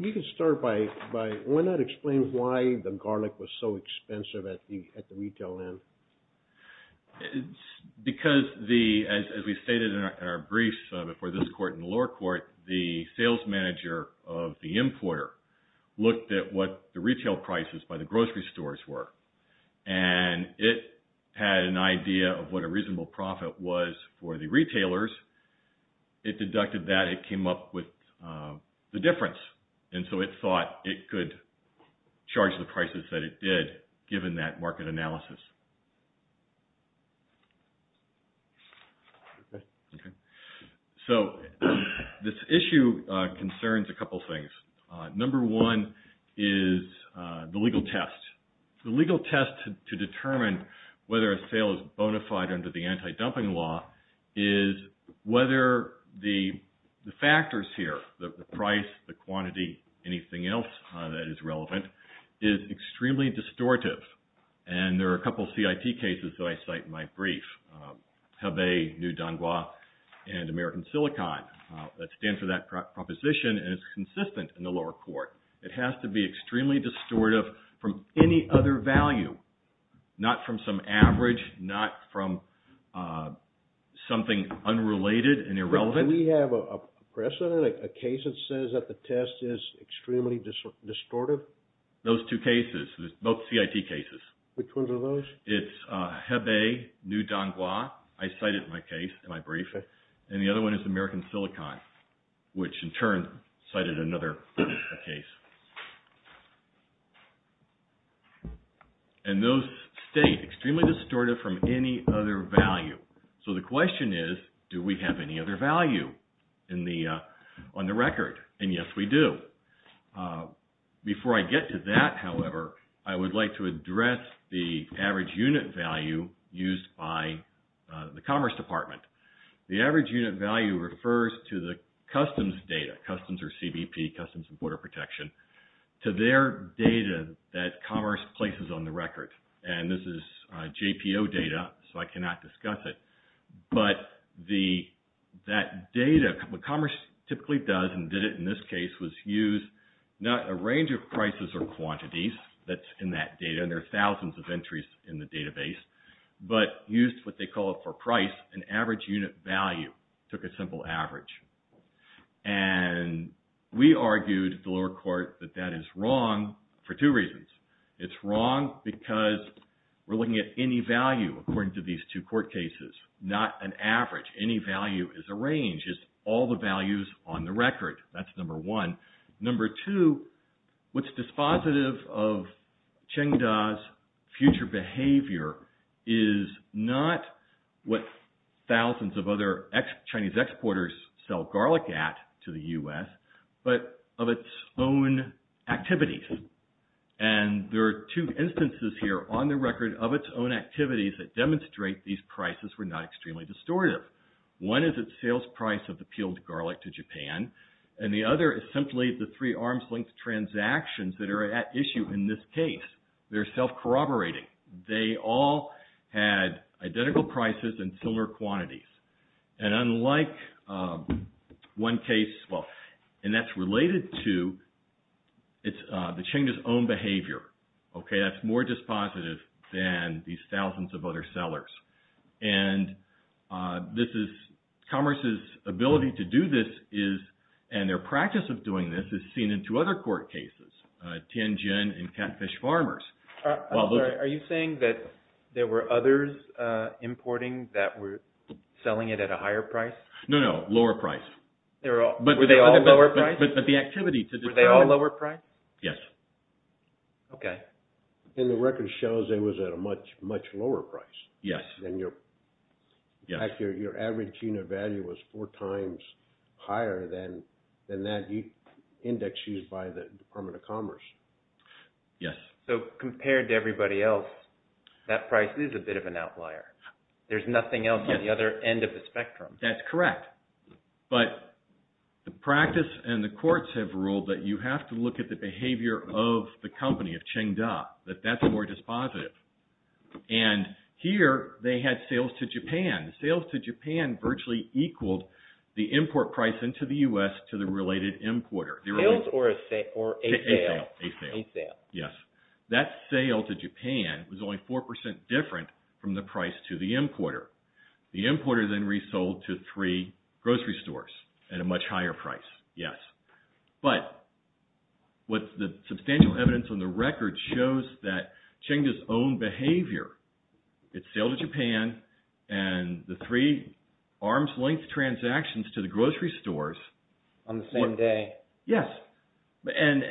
You can start by, why not explain why the garlic was so expensive at the retail end? Because the, as we stated in our briefs before this court and the lower court, the sales manager of the importer looked at what the retail prices by the grocery stores were and it had an idea of what a reasonable profit was for the retailers. It deducted that, it came up with the difference and so it thought it could charge the prices that it did given that market analysis. So this issue concerns a couple things. Number one is the legal test. The legal test to the price, the quantity, anything else that is relevant is extremely distortive. And there are a couple of CIT cases that I cite in my brief, Hebei, New Donghua, and American Silicon that stand for that proposition and it's consistent in the lower court. It has to be extremely distortive from any other value, not from some average, not from something unrelated and irrelevant. Do we have a precedent, a case that says that the test is extremely distortive? Those two cases, both CIT cases. Which ones are those? It's Hebei, New Donghua, I cite it in my case, in my brief, and the other one is American Silicon, which in turn cited another case. And those state extremely distortive from any other value. So the question is, do we have any other value on the record? And yes, we do. Before I get to that, however, I would like to address the average unit value used by the Commerce Department. The average unit value refers to the customs data, customs or CBP, Customs and Border Protection, to their data that that data, what Commerce typically does and did it in this case, was use not a range of prices or quantities that's in that data, and there are thousands of entries in the database, but used what they call it for price, an average unit value, took a simple average. And we argued at the lower court that that is wrong for two reasons. It's wrong because we're looking at any value according to these two court cases, not an average. Any value is a range. It's all the values on the record. That's number one. Number two, what's dispositive of Chengda's future behavior is not what thousands of other Chinese exporters sell garlic at to the U.S., but of its own activities. And there are two instances here on the record of its own activities that demonstrate these prices were not extremely distortive. One is its sales price of the peeled garlic to Japan, and the other is simply the three arm's-length transactions that are at issue in this case. They're self-corroborating. They all had identical prices and similar quantities. And unlike one case, well, and that's related to the Chengda's own behavior, okay, that's more dispositive than these thousands of other sellers. And this is, Commerce's ability to do this is, and their practice of doing this, is seen in two other court cases, Tianjin and Catfish Farmers. Are you saying that there were others importing that were selling it at a higher price? No, no, lower price. But were they all lower price? But the activity to the... Were they all lower price? Yes. Okay. And the record shows it was at a much, much lower price. Yes. And your average unit value was four times higher than that index used by the Department of Commerce. Yes. So compared to everybody else, that price is a bit of an outlier. There's nothing else at the other end of the spectrum. That's correct. But the practice and the courts have ruled that you have to look at the behavior of the company, of Chengda, that that's more dispositive. And here, they had sales to Japan. Sales to Japan virtually equaled the import price into the U.S. to the related importer. Sales or a sale? A sale. A sale. Yes. That sale to Japan was only 4% different from the price to the importer. The importer then resold to three grocery stores at a much higher price. Yes. But what the substantial evidence on the record shows that Chengda's own behavior, its sale to Japan and the three arms-length transactions to the grocery stores... On the same day. Yes. And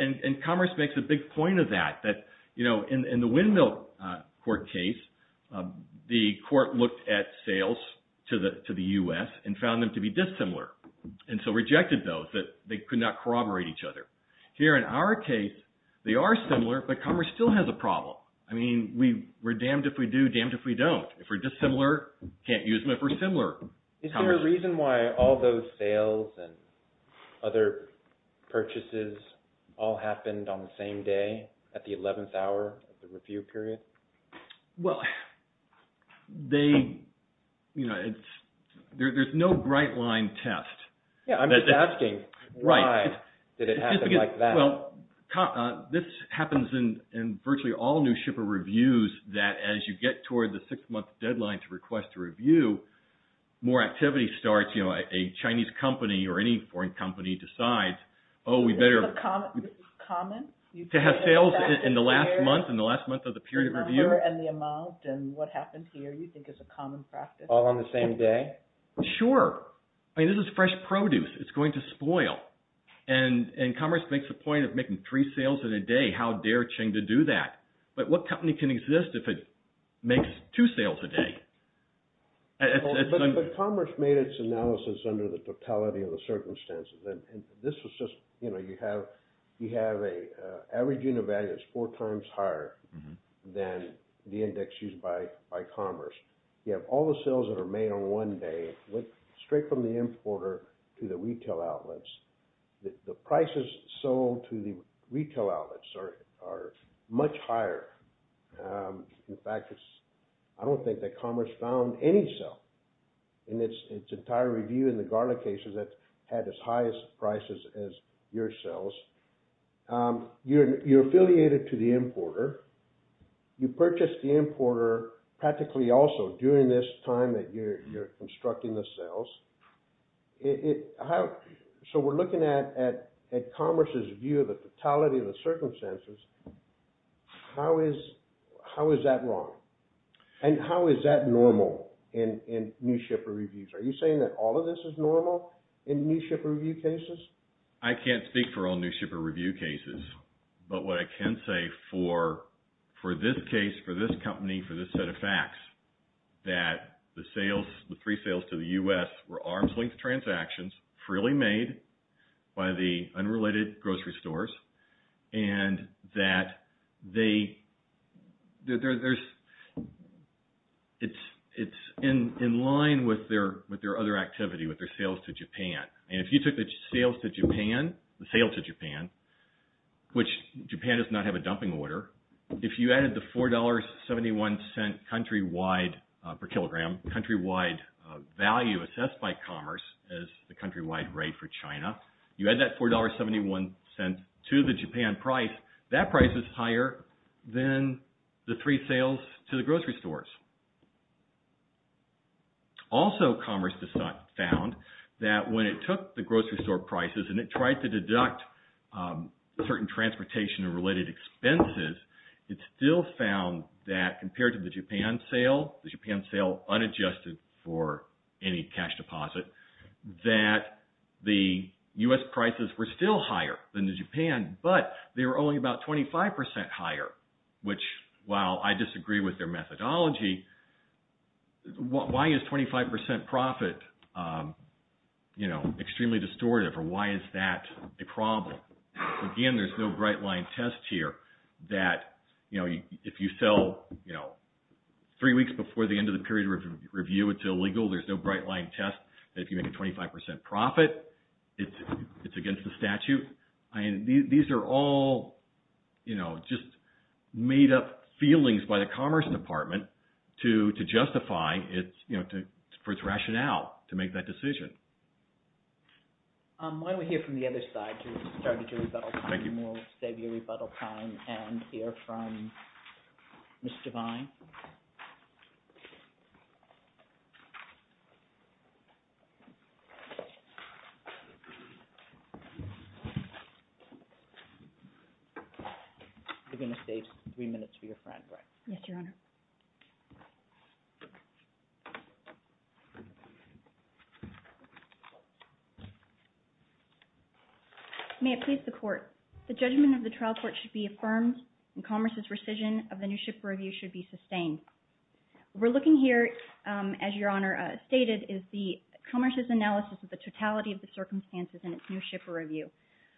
Commerce makes a big point of that, that in the Windmill Court case, the court looked at sales to the U.S. and found them to be dissimilar. And so rejected those, that they could not corroborate each other. Here in our case, they are similar, but Commerce still has a problem. I mean, we're damned if we do, damned if we don't. If we're dissimilar, can't use them if we're similar. Is there a reason why all those sales and other purchases all happened on the same day at the 11th hour of the review period? Well, there's no bright line test. Yeah, I'm just asking why did it happen like that? Well, this happens in virtually all new shipper reviews, that as you get toward the six-month deadline to request a review, more activity starts. You know, a Chinese company or any foreign company decides, oh, we better... This is common? To have sales in the last month, in the last month of the period of review? And the amount, and what happened here, you think is a common practice? All on the same day? Sure. I mean, this is fresh produce. It's going to spoil. And Commerce makes a point of making three sales in a day. How dare Qing to do that? But what company can exist if it makes two sales a day? But Commerce made its analysis under the totality of the circumstances. And this was just, you know, you have an average unit value that's four times higher than the index used by Commerce. You have all the sales that are made on one day, went straight from the importer to the retail outlets. The prices sold to the retail outlets are much higher. In fact, I don't think that Commerce found any sell in its entire review in the garlic cases that had as high as prices as your sales. You're affiliated to the importer. You purchased the importer practically also during this time that you're constructing the sales. So we're looking at Commerce's view of the totality of the circumstances. How is that wrong? And how is that normal in new shipper reviews? Are you saying that all of this is normal in new shipper review cases? I can't speak for all new shipper review cases. But what I can say for this case, for this company, for this set of facts, that the sales, the three sales to the U.S. were arm's length transactions freely made by the unrelated grocery stores. And that it's in line with their other activity, with their sales to Japan. And if you took the sales to Japan, the sale to Japan, which Japan does not have a dumping order, if you added the $4.71 cent countrywide per kilogram, countrywide value assessed by Commerce as the countrywide rate for China, you add that $4.71 cent to the Japan price, that price is higher than the three sales to the grocery stores. Also Commerce found that when it took the grocery store prices and it tried to deduct certain transportation and related expenses, it still found that compared to the Japan sale, the Japan sale unadjusted for any cash deposit, that the U.S. prices were still higher than the Japan, but they were only about 25% higher, which while I disagree with their methodology, why is 25% profit extremely distortive or why is that a problem? Again, there's no bright line test here that, if you sell three weeks before the end of the period of review, it's illegal, there's no bright line test. If you make a 25% profit, it's against the statute. These are all just made up feelings by the Commerce Department to justify for its rationale to make that decision. Why don't we hear from the other side to start to do rebuttal time, and we'll save you rebuttal time and hear from Mr. Vine. You're going to save three minutes for your friend, right? Yes, Your Honor. May it please the court. The judgment of the trial court should be affirmed, and Commerce's rescission of the new ship for review should be sustained. We're looking here, as Your Honor stated, is the Commerce's analysis of the totality of the circumstances in its new shipper review.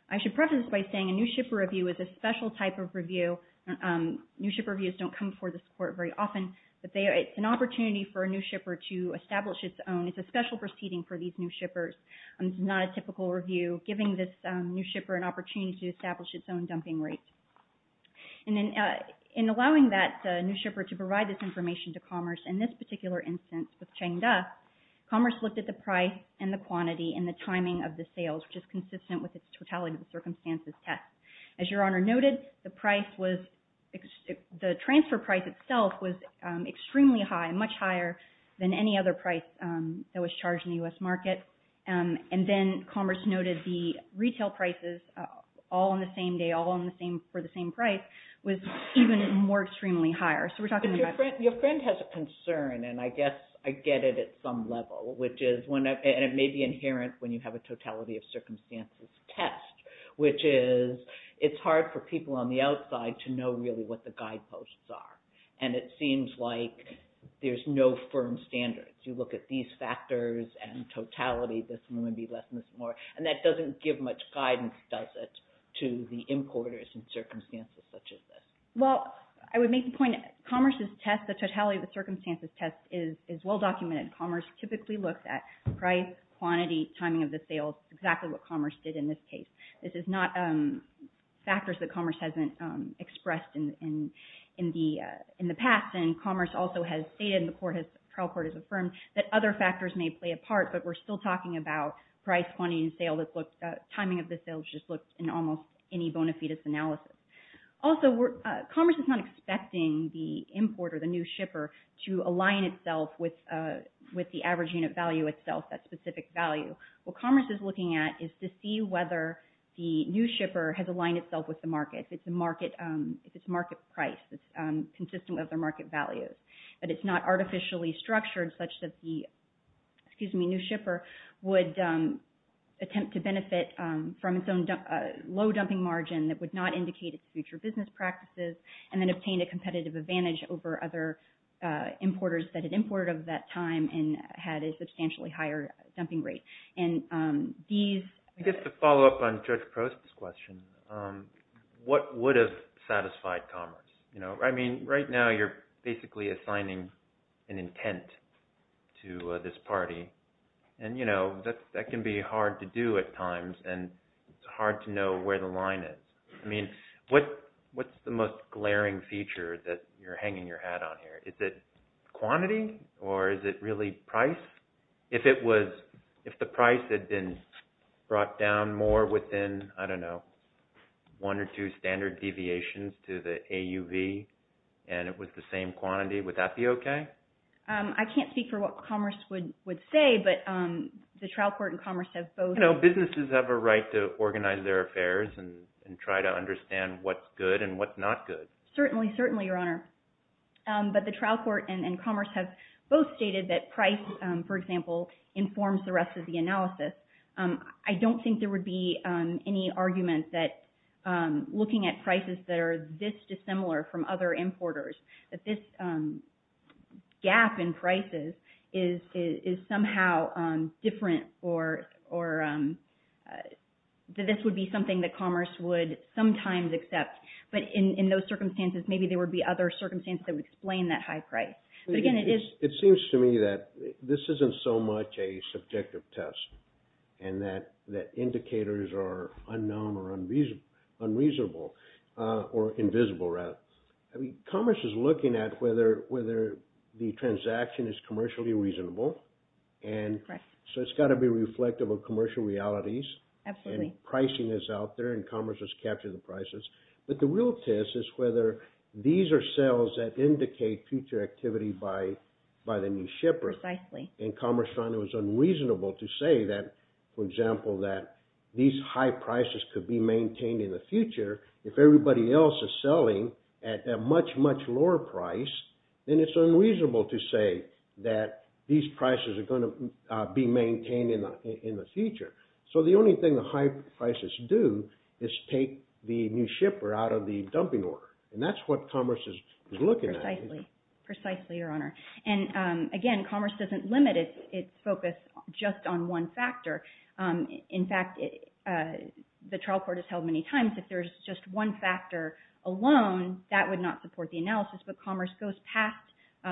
I should preface by saying a new shipper review is a special type of review. New shipper reviews don't come before this court very often, but it's an opportunity for a new shipper to establish its own. It's a special proceeding for these new shippers. It's not a typical review, giving this new shipper an opportunity to establish its own dumping rate. And then in allowing that new shipper to provide this information to Commerce, in this particular instance with Chengda, Commerce looked at the price and the quantity and the timing of the sales, which is consistent with its totality of the circumstances test. As Your Honor noted, the transfer price itself was extremely high, much higher than any other price that was charged in the U.S. market. And then Commerce noted the retail prices, all on the same day, all for the same price, was even more extremely higher. But your friend has a concern, and I guess I get it at some level, which is, and it may be inherent when you have a totality of circumstances test, which is it's hard for people on the outside to know really what the guideposts are. And it seems like there's no firm standards. You look at these factors and totality, this one would be less and this one more, and that doesn't give much guidance, does it, to the importers in circumstances such as this. Well, I would make the point that Commerce's test, the totality of the circumstances test is well documented. Commerce typically looks at price, quantity, timing of the sales, exactly what Commerce did in this case. This is not factors that Commerce hasn't expressed in the past. And Commerce also has stated, and the trial court has affirmed, that other factors may play a part, but we're still talking about price, quantity, and timing of the sales, just looked in almost any bona fides analysis. Also, Commerce is not expecting the importer, the new shipper, to align itself with the average unit value itself, that specific value. What Commerce is looking at is to see whether the new shipper has aligned itself with the market, if it's market price that's consistent with their market values. But it's not artificially structured such that the new shipper would attempt to benefit from its own low dumping margin that would not indicate its future business practices, and then obtain a competitive advantage over other importers that had imported at that time and had a substantially higher dumping rate. I guess to follow up on Judge Post's question, what would have satisfied Commerce? I mean, right now you're basically assigning an intent to this party, and that can be hard to do at times, and it's hard to know where the line is. I mean, what's the most glaring feature that you're hanging your hat on here? Is it quantity, or is it really price? If the price had been brought down more within, I don't know, one or two standard deviations to the AUV, and it was the same quantity, would that be okay? I can't speak for what Commerce would say, but the trial court and Commerce have both— You know, businesses have a right to organize their affairs and try to understand what's good and what's not good. Certainly, certainly, Your Honor. But the trial court and Commerce have both stated that price, for example, informs the rest of the analysis. I don't think there would be any argument that looking at prices that are this dissimilar from other importers, that this gap in prices is somehow different, that this would be something that Commerce would sometimes accept. But in those circumstances, maybe there would be other circumstances that would explain that high price. But again, it is— It seems to me that this isn't so much a subjective test. And that indicators are unknown or unreasonable, or invisible, rather. I mean, Commerce is looking at whether the transaction is commercially reasonable. And so it's got to be reflective of commercial realities. Absolutely. And pricing is out there, and Commerce has captured the prices. But the real test is whether these are sales that indicate future activity by the new shipper. Precisely. And Commerce found it was unreasonable to say that, for example, that these high prices could be maintained in the future if everybody else is selling at a much, much lower price. Then it's unreasonable to say that these prices are going to be maintained in the future. So the only thing the high prices do is take the new shipper out of the dumping order. And that's what Commerce is looking at. Precisely. Precisely, Your Honor. And again, Commerce doesn't limit its focus just on one factor. In fact, the trial court has held many times, if there's just one factor alone, that would not support the analysis. But Commerce goes past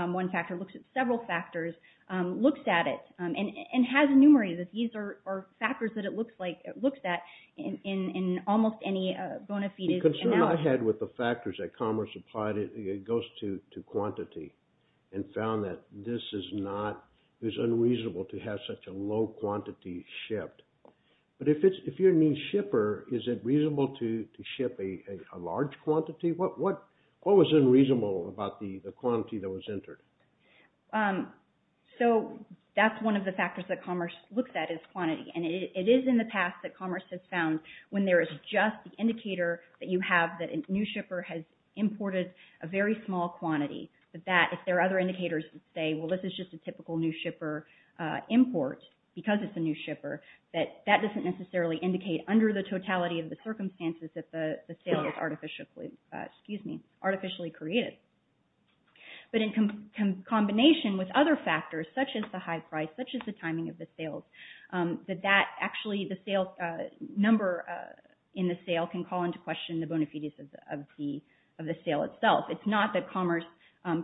one factor, looks at several factors, looks at it, and has enumerated it. These are factors that it looks at in almost any bona fide analysis. The concern I had with the factors that Commerce applied, it goes to quantity. And found that this is unreasonable to have such a low quantity shipped. But if you're a new shipper, is it reasonable to ship a large quantity? What was unreasonable about the quantity that was entered? So that's one of the factors that Commerce looks at is quantity. And it is in the past that Commerce has found when there is just the indicator that you have that a new shipper has imported a very small quantity. If there are other indicators that say, well, this is just a typical new shipper import because it's a new shipper, that doesn't necessarily indicate under the totality of the circumstances that the sale was artificially created. But in combination with other factors, such as the high price, such as the timing of the sales, that actually the number in the sale can call into question the bona fides of the sale itself. It's not that Commerce,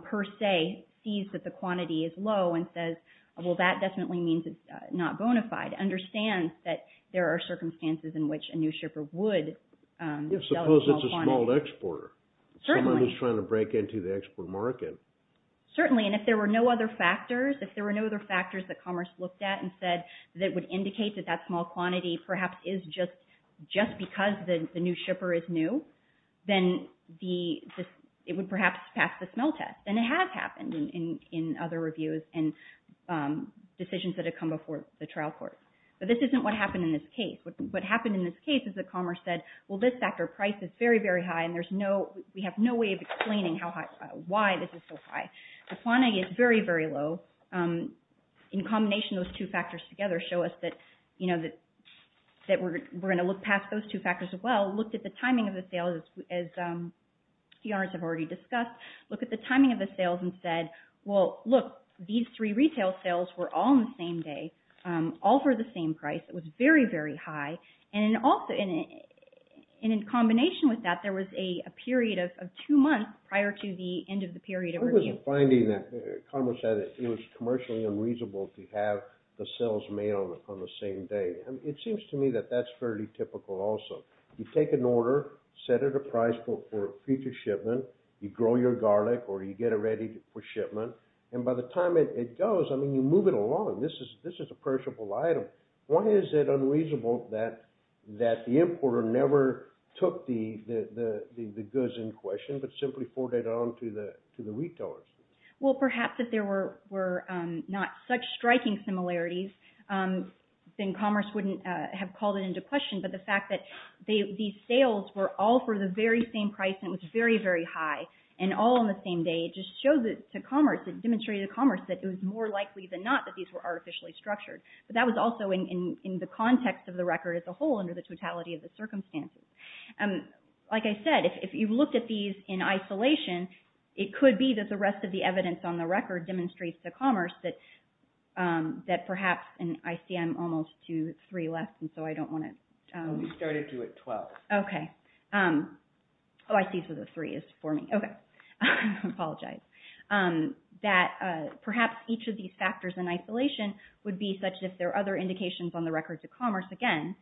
per se, sees that the quantity is low and says, well, that definitely means it's not bona fide. Understands that there are circumstances in which a new shipper would sell a small quantity. Suppose it's a small exporter. Certainly. Someone who's trying to break into the export market. Certainly. And if there were no other factors, if there were no other factors that Commerce looked at and said that would indicate that that small quantity perhaps is just because the new shipper is new, then it would perhaps pass the smell test. And it has happened in other reviews and decisions that have come before the trial court. But this isn't what happened in this case. What happened in this case is that Commerce said, well, this factor of price is very, very high, and we have no way of explaining why this is so high. The quantity is very, very low. In combination, those two factors together show us that we're going to look past those two factors as well. Look at the timing of the sales, as the owners have already discussed. Look at the timing of the sales and said, well, look, these three retail sales were all on the same day, all for the same price. It was very, very high. And in combination with that, there was a period of two months prior to the end of the period of review. I wasn't finding that Commerce said it was commercially unreasonable to have the sales made on the same day. It seems to me that that's fairly typical also. You take an order, set it a price for future shipment, you grow your garlic, or you get it ready for shipment, and by the time it goes, I mean, you move it along. This is a purchasable item. Why is it unreasonable that the importer never took the goods in question but simply forwarded it on to the retailers? Well, perhaps if there were not such striking similarities, then Commerce wouldn't have called it into question. But the fact that these sales were all for the very same price and it was very, very high, and all on the same day, it just showed to Commerce, it demonstrated to Commerce that it was more likely than not that these were artificially structured. But that was also in the context of the record as a whole under the totality of the circumstances. Like I said, if you looked at these in isolation, it could be that the rest of the evidence on the record demonstrates to Commerce that perhaps, and I see I'm almost to three left, and so I don't want to... No, we started you at 12. Okay. Oh, I see, so the three is for me. Okay, I apologize. That perhaps each of these factors in isolation would be such that if there are other indications on the record to Commerce, again,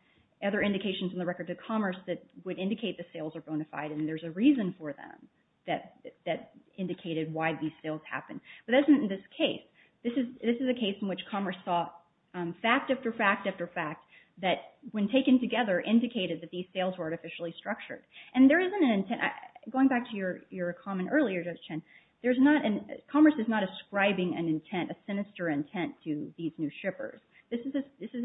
other indications on the record to Commerce that would indicate the sales are bona fide, and there's a reason for them that indicated why these sales happened. But that isn't in this case. This is a case in which Commerce saw fact after fact after fact that when taken together, indicated that these sales were artificially structured. And there isn't an intent... Going back to your comment earlier, Judge Chen, Commerce is not ascribing an intent, a sinister intent to these new shippers. This is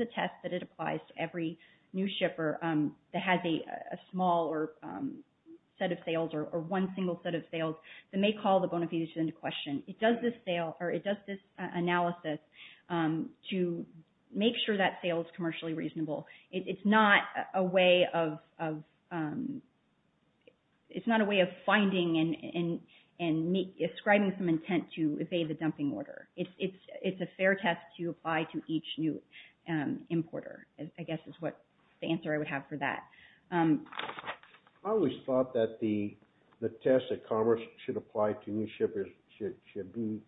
a test that it applies to every new shipper that has a small set of sales, or one single set of sales that may call the bona fides into question. It does this analysis to make sure that sale is commercially reasonable. It's not a way of finding and ascribing some intent to evade the dumping order. It's a fair test to apply to each new importer, I guess is what the answer I would have for that. I always thought that the test that Commerce should apply to new shippers should be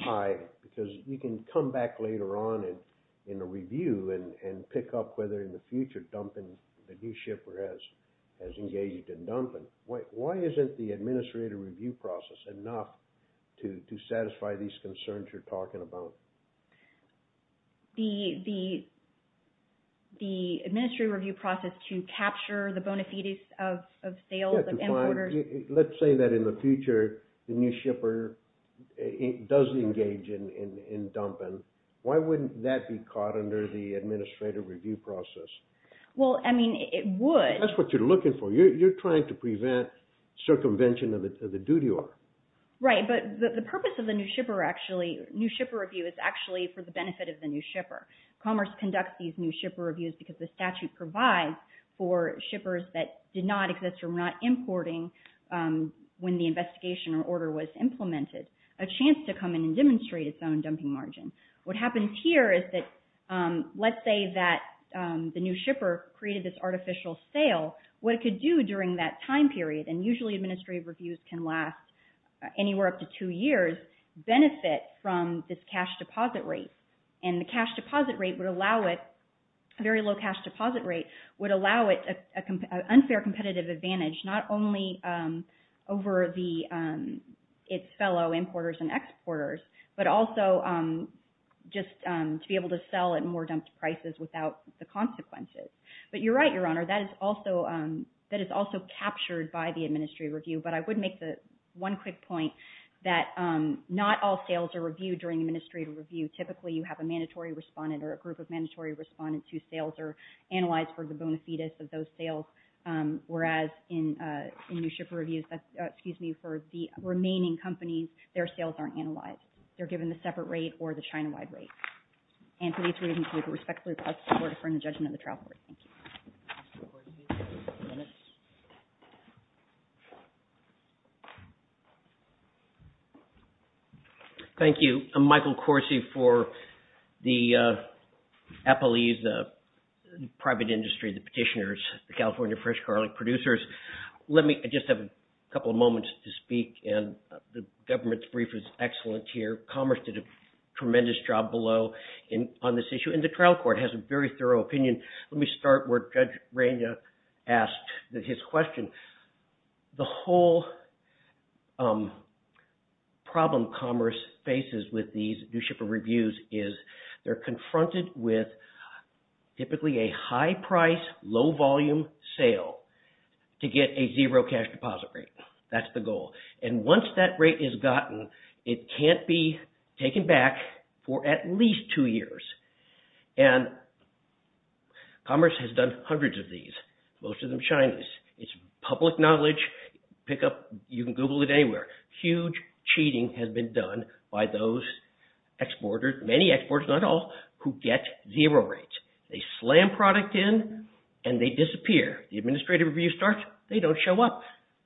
high because you can come back later on in a review and pick up whether in the future dumping the new shipper has engaged in dumping. Why isn't the administrative review process enough to satisfy these concerns you're talking about? The administrative review process to capture the bona fides of sales and importers... Let's say that in the future, the new shipper does engage in dumping. Why wouldn't that be caught under the administrative review process? Well, I mean, it would. That's what you're looking for. You're trying to prevent circumvention of the duty order. Right, but the purpose of the new shipper review is actually for the benefit of the new shipper. Commerce conducts these new shipper reviews because the statute provides for shippers that did not exist or were not importing when the investigation or order was implemented a chance to come in and demonstrate its own dumping margin. What happens here is that, let's say that the new shipper created this artificial sale. What it could do during that time period, and usually administrative reviews can last anywhere up to two years, benefit from this cash deposit rate. And the cash deposit rate would allow it, very low cash deposit rate, would allow it an unfair competitive advantage not only over its fellow importers and exporters, but also just to be able to sell at more dumped prices without the consequences. But you're right, Your Honor, that is also captured by the administrative review. But I would make the one quick point that not all sales are reviewed during administrative review. Typically, you have a mandatory respondent or a group of mandatory respondents whose sales are analyzed for the bona fides of those sales. Whereas in new shipper reviews, that's, excuse me, for the remaining companies, their sales aren't analyzed. They're given the separate rate or the China-wide rate. And for these reasons, we respectfully request the Court to defer the judgment of the trial court. Thank you. Thank you. I'm Michael Corsi for the Applees, the private industry, the petitioners, the California Fresh Garlic producers. Let me just have a couple of moments to speak. And the government's brief is excellent here. Commerce did a tremendous job below on this issue. And the trial court has a very thorough opinion. Let me start where Judge Reina asked his question. The whole problem commerce faces with these new shipper reviews is they're confronted with typically a high price, low volume sale to get a zero cash deposit rate. That's the goal. And once that rate is gotten, it can't be taken back for at least two years. And commerce has done hundreds of these. Most of them Chinese. It's public knowledge. Pick up, you can Google it anywhere. Huge cheating has been done by those exporters, many exporters, not all, who get zero rates. They slam product in and they disappear. The administrative review starts, they don't show up.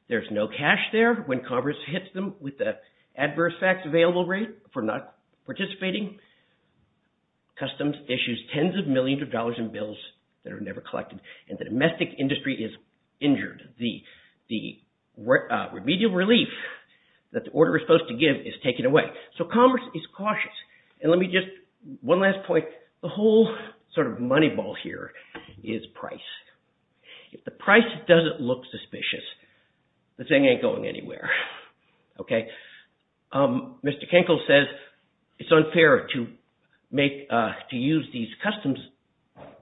There's no cash there. When commerce hits them with the adverse facts available rate for not participating, customs issues tens of millions of dollars in bills that are never collected. And the domestic industry is injured. The remedial relief that the order is supposed to give is taken away. So commerce is cautious. And let me just, one last point. The whole sort of money ball here is price. If the price doesn't look suspicious, the thing ain't going anywhere, okay? Mr. Kinkel says it's unfair to use these customs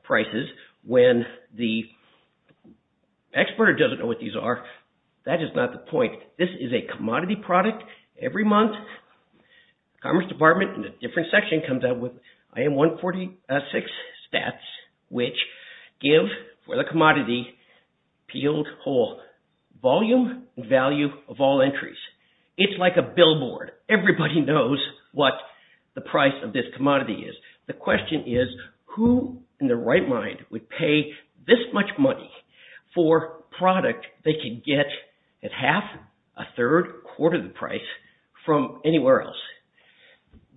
prices when the exporter doesn't know what these are. That is not the point. This is a commodity product. Every month, the commerce department in a different section comes out with, I am 146 stats, which give for the commodity peeled whole. Volume and value of all entries. It's like a billboard. Everybody knows what the price of this commodity is. The question is who in their right mind would pay this much money for product they can get at half, a third, quarter the price from anywhere else.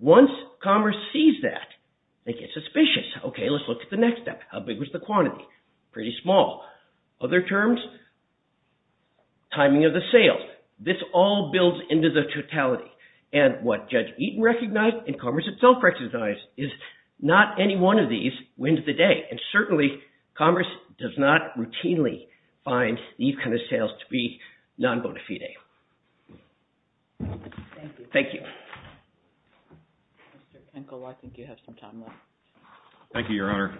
Once commerce sees that, they get suspicious. Okay, let's look at the next step. How big was the quantity? Pretty small. Other terms, timing of the sales. This all builds into the totality. And what Judge Eaton recognized and commerce itself recognized is not any one of these wins the day. And certainly, commerce does not routinely find these kind of sales to be non-bona fide. Thank you. Thank you. Mr. Kenkel, I think you have some time left. Thank you, Your Honor.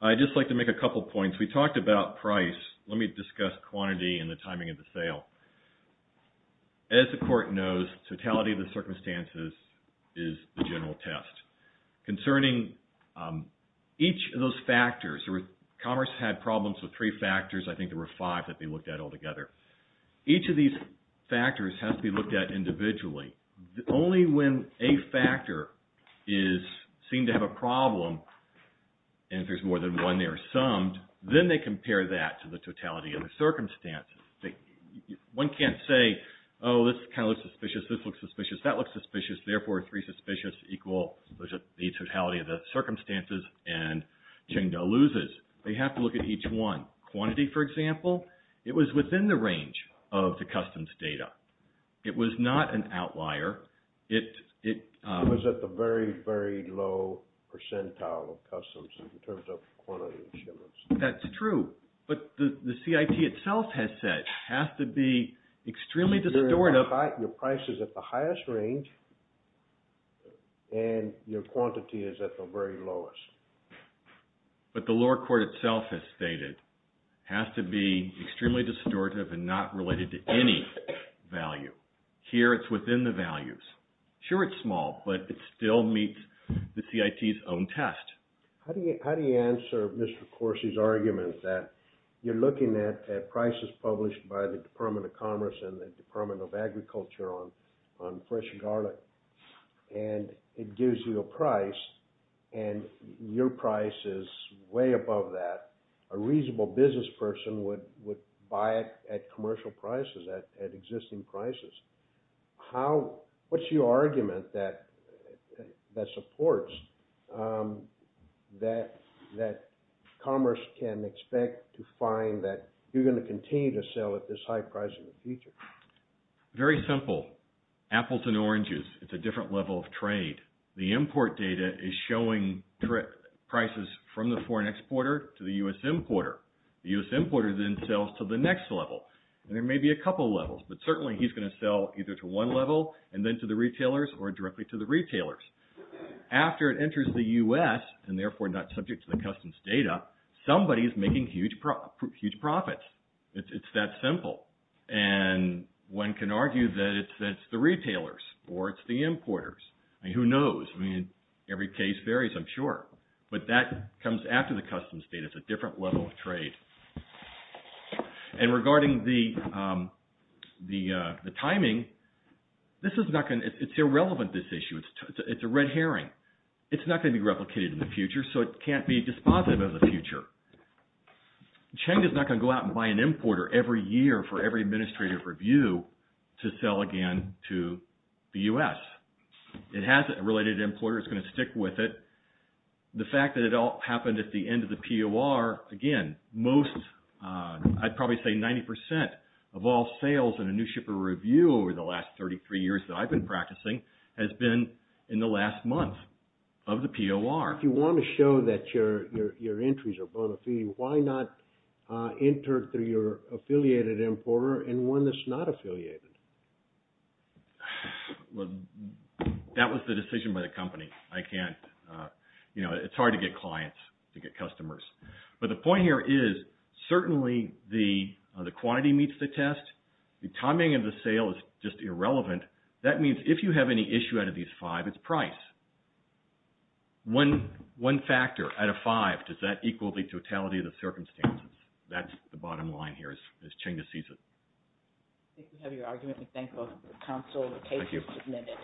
I'd just like to make a couple of points. We talked about price. Let me discuss quantity and the timing of the sale. As the court knows, totality of the circumstances is the general test. Concerning each of those factors, commerce had problems with three factors. I think there were five that they looked at all together. Each of these factors, factors have to be looked at individually. Only when a factor is seen to have a problem and if there's more than one, they are summed. Then they compare that to the totality of the circumstances. One can't say, oh, this kind of looks suspicious. This looks suspicious. That looks suspicious. Therefore, three suspicious equal the totality of the circumstances and Chengda loses. They have to look at each one. Quantity, for example, it was within the range of the customs data. It was not an outlier. It was at the very, very low percentile of customs in terms of quantity and shipments. That's true. But the CIT itself has said, has to be extremely distorted. Your price is at the highest range and your quantity is at the very lowest. But the lower court itself has stated, has to be extremely distortive and not related to any value. Here, it's within the values. Sure, it's small, but it still meets the CIT's own test. How do you answer Mr. Corsi's argument that you're looking at prices published by the Department of Commerce and the Department of Agriculture on fresh garlic and it gives you a price and your price is way above that. A reasonable business person would buy it at commercial prices, at existing prices. What's your argument that supports that commerce can expect to find that you're going to continue to sell at this high price in the future? Very simple. Appleton oranges, it's a different level of trade. The import data is showing prices from the foreign exporter to the U.S. importer. The U.S. importer then sells to the next level. And there may be a couple levels, but certainly he's going to sell either to one level and then to the retailers or directly to the retailers. After it enters the U.S. and therefore not subject to the customs data, somebody is making huge profits. It's that simple. And one can argue that it's the retailers or it's the importers. Who knows? I mean, every case varies, I'm sure. But that comes after the customs data. It's a different level of trade. And regarding the timing, it's irrelevant, this issue. It's a red herring. It's not going to be replicated in the future. So it can't be dispositive of the future. Cheng is not going to go out and buy an importer every year for every administrative review to sell again to the U.S. It has a related importer. It's going to stick with it. The fact that it all happened at the end of the POR, again, most, I'd probably say 90% of all sales in a new shipper review over the last 33 years that I've been practicing has been in the last month of the POR. If you want to show that your entries are bona fide, why not enter through your affiliated importer and one that's not affiliated? Well, that was the decision by the company. I can't, you know, it's hard to get clients, to get customers. But the point here is certainly the quantity meets the test. The timing of the sale is just irrelevant. That means if you have any issue out of these five, it's price. One factor out of five, does that equal the totality of the circumstances? That's the bottom line here as Cheng sees it. I think we have your argument. We thank both the council. The case is submitted.